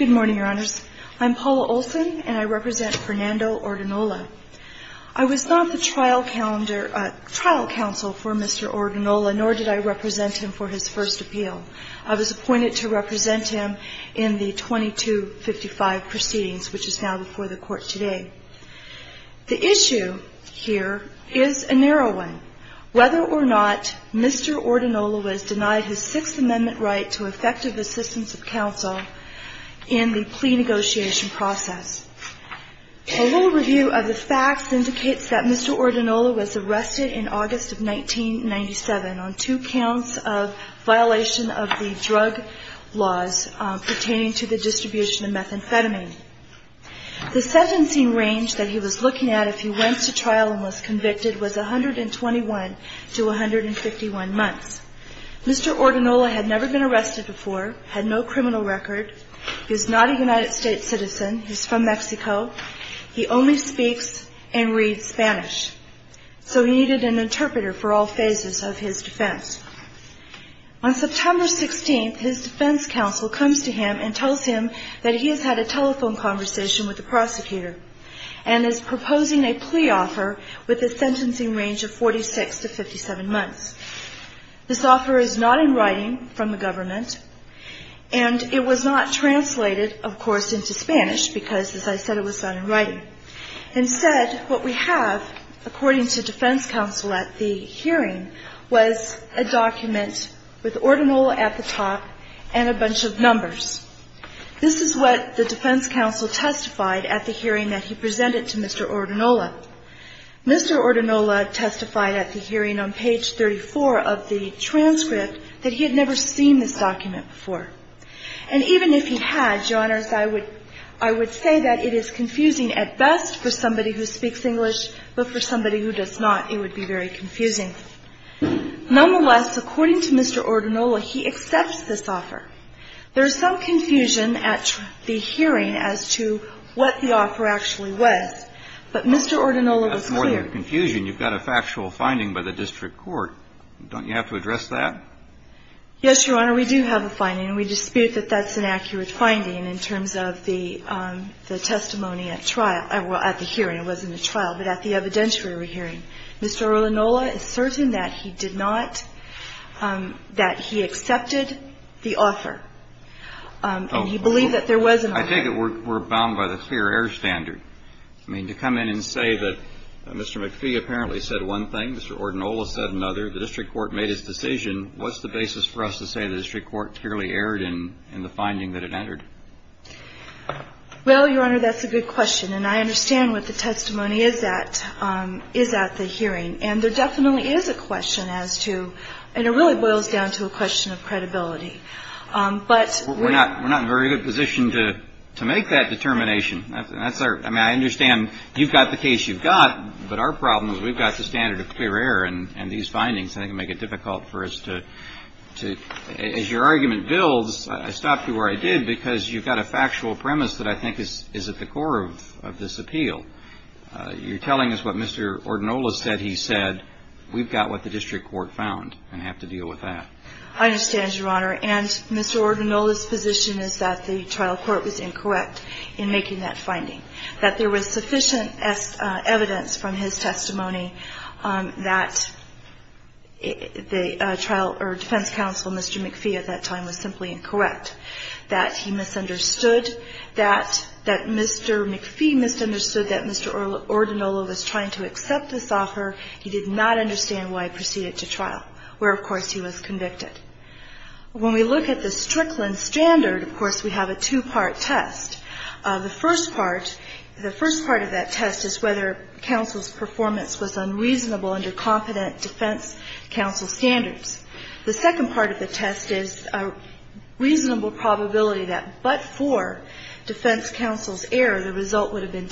I was not the trial counsel for Mr. Ordinola, nor did I represent him for his first appeal. I was appointed to represent him in the 2255 proceedings, which is now before the court today. The issue here is a narrow one, whether or not Mr. Ordinola was denied his Sixth Amendment right to effective assistance of counsel in the plea negotiation process. A little review of the facts indicates that Mr. Ordinola was arrested in August of 1997 on two counts of violation of the drug laws pertaining to the distribution of methamphetamine. The sentencing range that he was looking at if he went to trial and was convicted was 121 to 151 months. Mr. Ordinola had never been arrested before, had no criminal record. He is not a United States citizen. He is from Mexico. He only speaks and reads Spanish, so he needed an interpreter for all phases of his defense. On September 16th, his defense counsel comes to him and tells him that he has had a telephone conversation with the prosecutor and is proposing a plea offer with a sentencing range of 46 to 57 months. This offer is not in writing from the government, and it was not translated, of course, into Spanish because, as I said, it was not in writing. Instead, what we have, according to defense counsel at the hearing, was a document with Ordinola at the top and a bunch of numbers. This is what the defense counsel testified at the hearing that he presented to Mr. Ordinola. Mr. Ordinola testified at the hearing on page 34 of the transcript that he had never seen this document before. And even if he had, Your Honors, I would say that it is confusing at best for somebody who speaks English, but for somebody who does not, it would be very confusing. Nonetheless, according to Mr. Ordinola, he accepts this offer. There is some confusion at the hearing as to what the offer actually was, but Mr. Ordinola was clear. That's more than confusion. You've got a factual finding by the district court. Don't you have to address that? Yes, Your Honor, we do have a finding, and we dispute that that's an accurate finding in terms of the testimony at trial at the hearing. It wasn't a trial, but at the evidentiary hearing. Mr. Ordinola is certain that he did not, that he accepted the offer, and he believed that there was an offer. I think that we're bound by the clear air standard. I mean, to come in and say that Mr. McPhee apparently said one thing, Mr. Ordinola said another, the district court made its decision, what's the basis for us to say the district court clearly erred in the finding that it entered? Well, Your Honor, that's a good question, and I understand what the testimony is at the hearing, and there definitely is a question as to, and it really boils down to a question of credibility. But we're not in a very good position to make that determination. I mean, I understand you've got the case you've got, but our problem is we've got the standard of clear air, and these findings, I think, make it difficult for us to, as your argument builds, I stopped you where I did because you've got a factual premise that I think is at the core of this appeal. You're telling us what Mr. Ordinola said he said. We've got what the district court found, and I have to deal with that. I understand, Your Honor, and Mr. Ordinola's position is that the trial court was incorrect in making that finding, that there was sufficient evidence from his testimony that the trial, or defense counsel, Mr. McPhee at that time was simply incorrect, that he misunderstood, that Mr. McPhee misunderstood that Mr. Ordinola was trying to accept this offer. He did not understand why he proceeded to trial, where, of course, he was convicted. When we look at the Strickland standard, of course, we have a two-part test. The first part of that test is whether counsel's performance was unreasonable under confident defense counsel standards. The second part of the test is a reasonable probability that but for defense counsel's error, the result would have been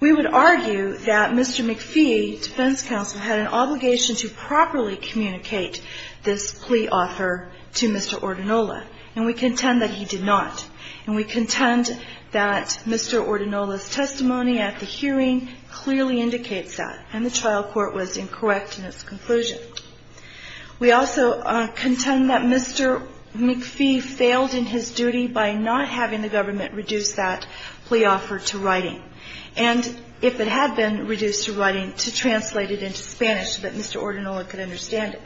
We would argue that Mr. McPhee, defense counsel, had an obligation to properly communicate this plea offer to Mr. Ordinola, and we contend that he did not. And we contend that Mr. Ordinola's testimony at the hearing clearly indicates that, and the trial court was incorrect in its conclusion. We also contend that Mr. McPhee failed in his duty by not having the government reduce that plea offer to writing. And if it had been reduced to writing, to translate it into Spanish so that Mr. Ordinola could understand it.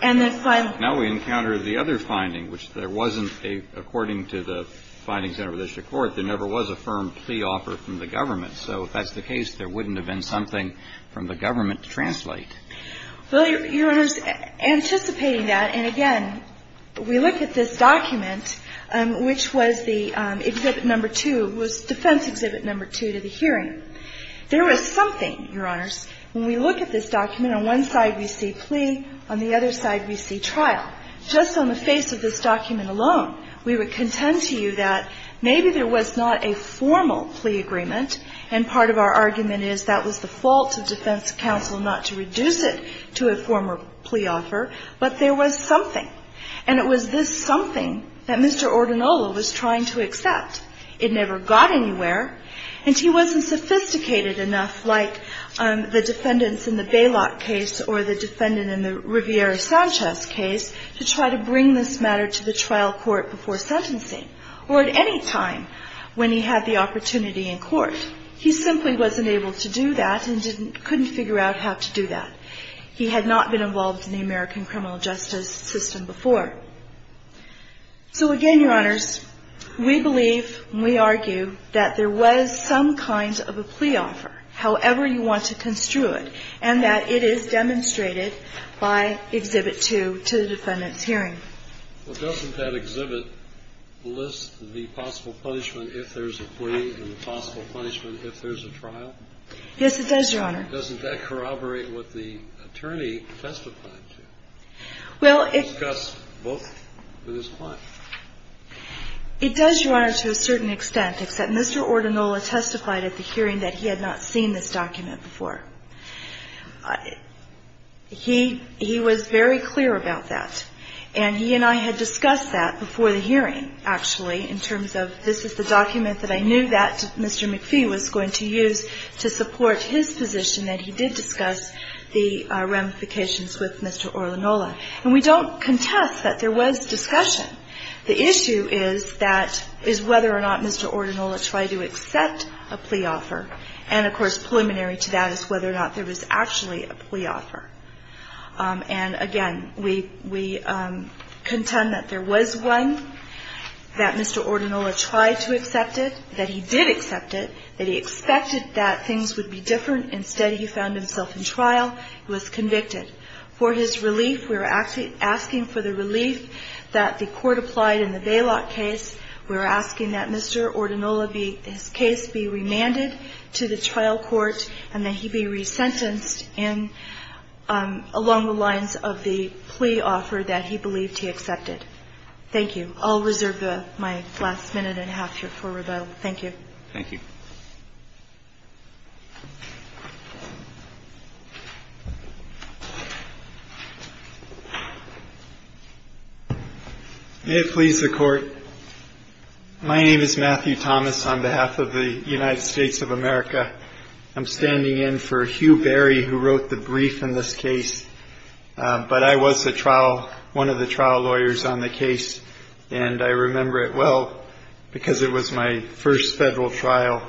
And then finally Now we encounter the other finding, which there wasn't a, according to the findings of the district court, there never was a firm plea offer from the government. So if that's the case, there wouldn't have been something from the government to translate. Well, Your Honors, anticipating that, and again, we look at this document, which was the exhibit number two, was defense exhibit number two to the hearing. There was something, Your Honors, when we look at this document, on one side we see plea, on the other side we see trial. Just on the face of this document alone, we would contend to you that maybe there was not a formal plea agreement. And part of our argument is that was the fault of defense counsel not to reduce it to a formal plea offer, but there was something. And it was this something that Mr. Ordinola was trying to accept. It never got anywhere. And he wasn't sophisticated enough, like the defendants in the Bailot case or the defendant in the Riviera-Sanchez case, to try to bring this matter to the trial court before sentencing or at any time when he had the opportunity in court. He simply wasn't able to do that and couldn't figure out how to do that. He had not been involved in the American criminal justice system before. So again, Your Honors, we believe and we argue that there was some kind of a plea offer, however you want to construe it, and that it is demonstrated by Exhibit 2 to the defendant's hearing. Well, doesn't that exhibit list the possible punishment if there's a plea and the possible punishment if there's a trial? Yes, it does, Your Honor. Doesn't that corroborate what the attorney testified to? Well, it does, Your Honor, to a certain extent, except Mr. Ordinola testified at the hearing that he had not seen this document before. He was very clear about that, and he and I had discussed that before the hearing, actually, in terms of this is the document that I knew that Mr. McPhee was going to use to support his position that he did discuss the ramifications with Mr. Ordinola. And we don't contest that there was discussion. The issue is whether or not Mr. Ordinola tried to accept a plea offer. And, of course, preliminary to that is whether or not there was actually a plea offer. And, again, we contend that there was one that Mr. Ordinola tried to accept it, that he did accept it, that he expected that things would be different. Instead, he found himself in trial. He was convicted. For his relief, we were asking for the relief that the court applied in the Bailout case. We were asking that Mr. Ordinola be his case be remanded to the trial court and that he be resentenced in along the lines of the plea offer that he believed he accepted. Thank you. I'll reserve my last minute and a half here for rebuttal. Thank you. May it please the Court. My name is Matthew Thomas on behalf of the United States of America. I'm standing in for Hugh Barry, who wrote the brief in this case. But I was a trial, one of the trial lawyers on the case, and I remember it well because it was my first federal trial.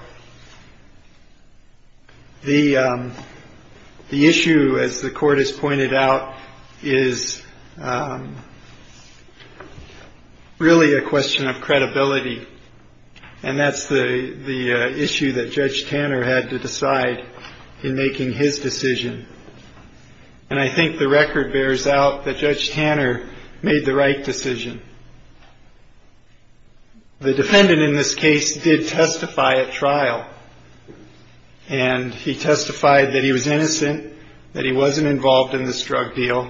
The issue, as the Court has pointed out, is really a question of credibility, and that's the issue that Judge Tanner had to decide in making his decision. And I think the record bears out that Judge Tanner made the right decision. The defendant in this case did testify at trial, and he testified that he was innocent, that he wasn't involved in this drug deal,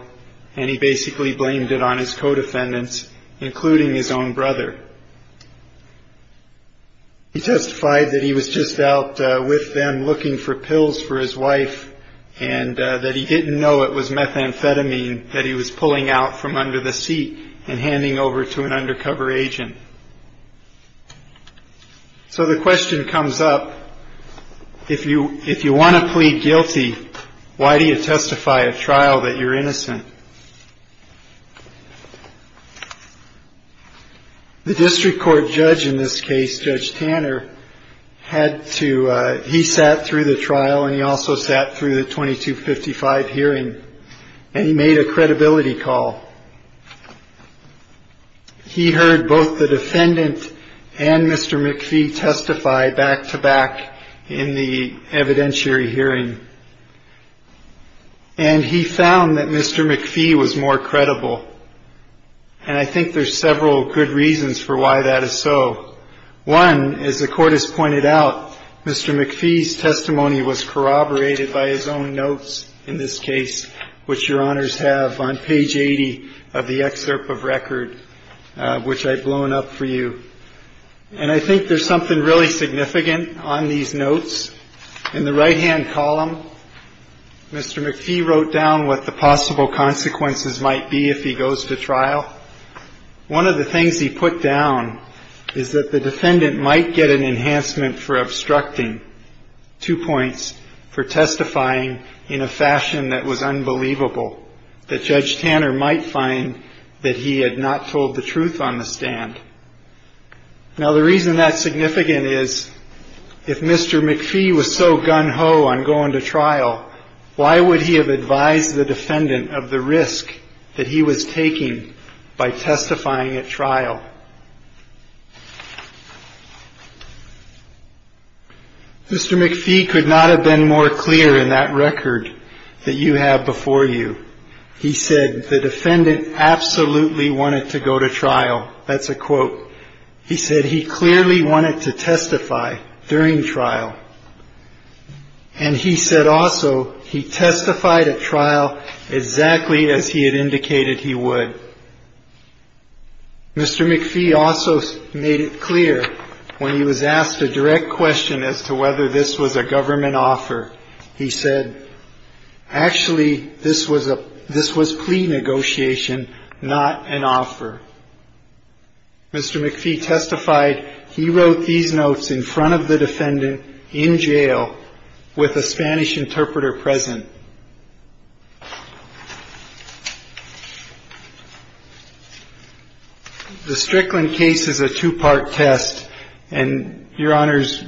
and he basically blamed it on his co-defendants, including his own brother. He testified that he was just out with them looking for pills for his wife and that he didn't know it was methamphetamine that he was pulling out from under the seat and handing over to an undercover agent. So the question comes up, if you want to plead guilty, why do you testify at trial that you're innocent? The district court judge in this case, Judge Tanner, had to – he sat through the trial and he also sat through the 2255 hearing, and he made a credibility call. He heard both the defendant and Mr. McPhee testify back-to-back in the evidentiary hearing, and he found that Mr. McPhee was more credible. And I think there's several good reasons for why that is so. One, as the court has pointed out, Mr. McPhee's testimony was corroborated by his own notes in this case, which Your Honors have on page 80 of the excerpt of record, which I've blown up for you. And I think there's something really significant on these notes. In the right-hand column, Mr. McPhee wrote down what the possible consequences might be if he goes to trial. One of the things he put down is that the defendant might get an enhancement for obstructing, two points, for testifying in a fashion that was unbelievable, that Judge Tanner might find that he had not told the truth on the stand. Now, the reason that's significant is if Mr. McPhee was so gun-ho on going to trial, why would he have advised the defendant of the risk that he was taking by testifying at trial? Mr. McPhee could not have been more clear in that record that you have before you. He said the defendant absolutely wanted to go to trial. That's a quote. He said he clearly wanted to testify during trial. And he said also he testified at trial exactly as he had indicated he would. Mr. McPhee also made it clear when he was asked a direct question as to whether this was a government offer, he said, actually, this was plea negotiation, not an offer. Mr. McPhee testified he wrote these notes in front of the defendant in jail with a Spanish interpreter present. The Strickland case is a two-part test. And, Your Honors,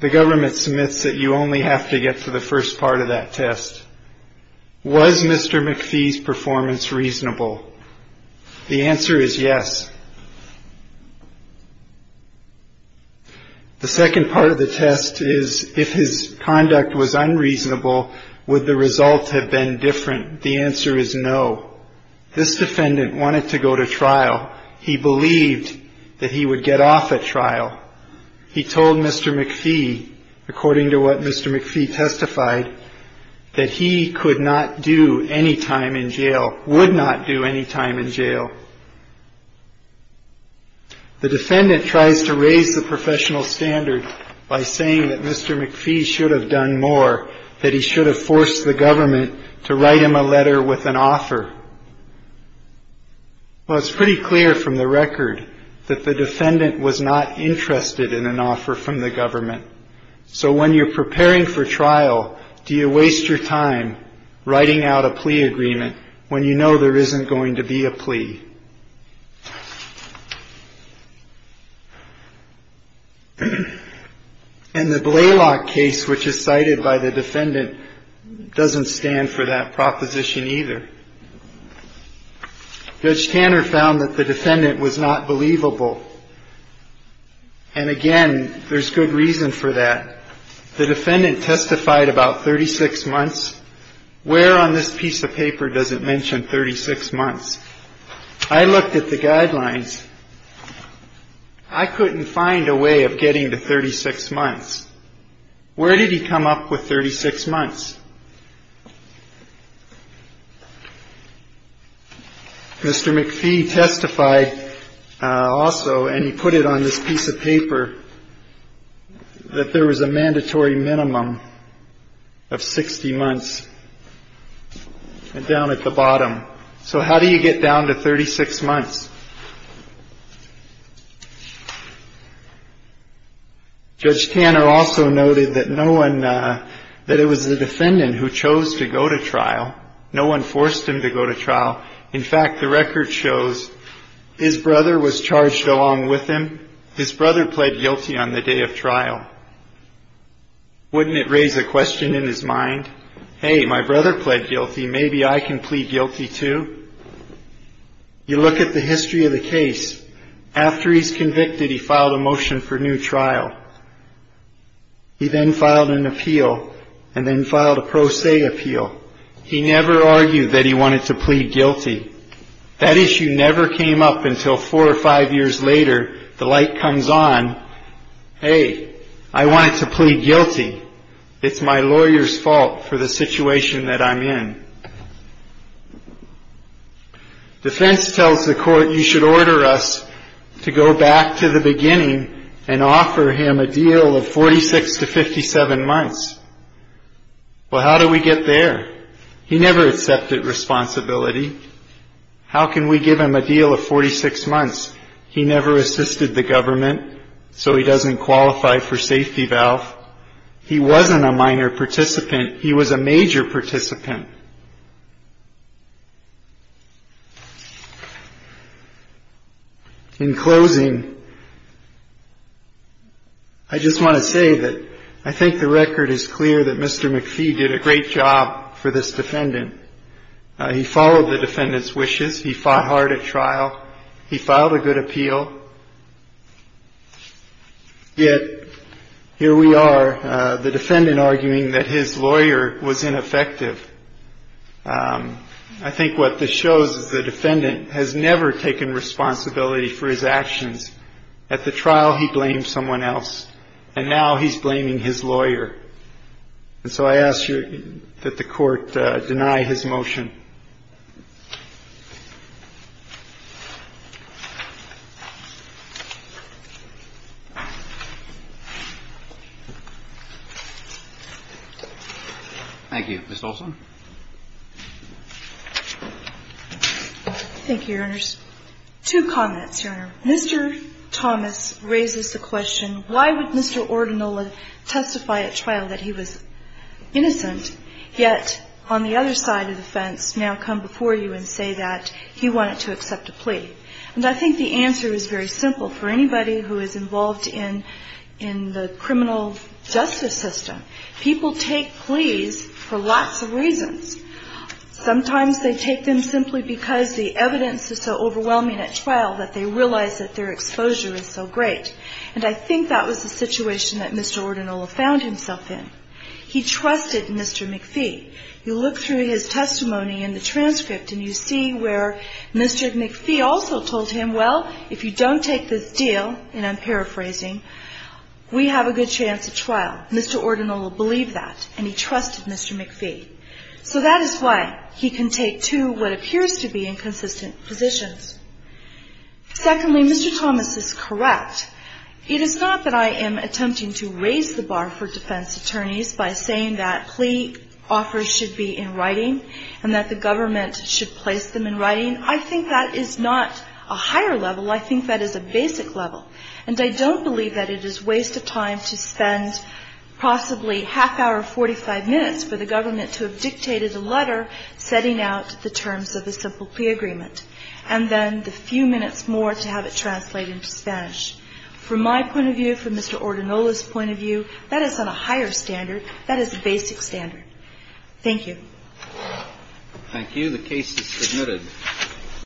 the government submits that you only have to get to the first part of that test. Was Mr. McPhee's performance reasonable? The answer is yes. The second part of the test is if his conduct was unreasonable, would the results have been different? The answer is no. This defendant wanted to go to trial. He believed that he would get off at trial. He told Mr. McPhee, according to what Mr. McPhee testified, that he could not do any time in jail, would not do any time in jail. The defendant tries to raise the professional standard by saying that Mr. McPhee should have done more, that he should have forced the government to write him a letter with an offer. Well, it's pretty clear from the record that the defendant was not interested in an offer from the government. So when you're preparing for trial, do you waste your time writing out a plea agreement when you know there isn't going to be a plea? And the Blaylock case, which is cited by the defendant, doesn't stand for that proposition either. Judge Tanner found that the defendant was not believable. And again, there's good reason for that. The defendant testified about 36 months. Where on this piece of paper does it mention 36 months? I looked at the guidelines. I couldn't find a way of getting to 36 months. Where did he come up with 36 months? Mr. McPhee testified also, and he put it on this piece of paper, that there was a mandatory minimum of 60 months down at the bottom. So how do you get down to 36 months? Judge Tanner also noted that no one, that it was the defendant who chose to go to trial. No one forced him to go to trial. In fact, the record shows his brother was charged along with him. His brother pled guilty on the day of trial. Wouldn't it raise a question in his mind? Hey, my brother pled guilty. Maybe I can plead guilty too. You look at the history of the case. After he's convicted, he filed a motion for new trial. He then filed an appeal and then filed a pro se appeal. He never argued that he wanted to plead guilty. That issue never came up until four or five years later. The light comes on. Hey, I wanted to plead guilty. It's my lawyer's fault for the situation that I'm in. Defense tells the court you should order us to go back to the beginning and offer him a deal of 46 to 57 months. Well, how do we get there? He never accepted responsibility. How can we give him a deal of 46 months? He never assisted the government, so he doesn't qualify for safety valve. He wasn't a minor participant. He was a major participant. In closing, I just want to say that I think the record is clear that Mr. McPhee did a great job for this defendant. He followed the defendant's wishes. He fought hard at trial. He filed a good appeal. Yet here we are, the defendant arguing that his lawyer was ineffective. I think what this shows is the defendant has never taken responsibility for his actions. At the trial, he blamed someone else. And now he's blaming his lawyer. And so I ask that the Court deny his motion. Thank you. Ms. Olson. Thank you, Your Honors. Two comments, Your Honor. Mr. Thomas raises the question, why would Mr. Ordinola testify at trial that he was innocent, yet on the other side of the fence now come before you and say that he wanted to accept a plea? And I think the answer is very simple. For anybody who is involved in the criminal justice system, people take pleas for lots of reasons. Sometimes they take them simply because the evidence is so overwhelming at trial that they realize that their exposure is so great. And I think that was the situation that Mr. Ordinola found himself in. He trusted Mr. McPhee. You look through his testimony in the transcript and you see where Mr. McPhee also told him, well, if you don't take this deal, and I'm paraphrasing, we have a good chance at trial. Mr. Ordinola believed that, and he trusted Mr. McPhee. So that is why he can take two what appears to be inconsistent positions. Secondly, Mr. Thomas is correct. It is not that I am attempting to raise the bar for defense attorneys by saying that plea offers should be in writing and that the government should place them in writing. I think that is not a higher level. I think that is a basic level. And I don't believe that it is a waste of time to spend possibly half-hour, 45 minutes for the government to have dictated a letter setting out the terms of a simple plea agreement, and then the few minutes more to have it translated into Spanish. From my point of view, from Mr. Ordinola's point of view, that is on a higher standard. That is a basic standard. Thank you. Thank you. The case is submitted.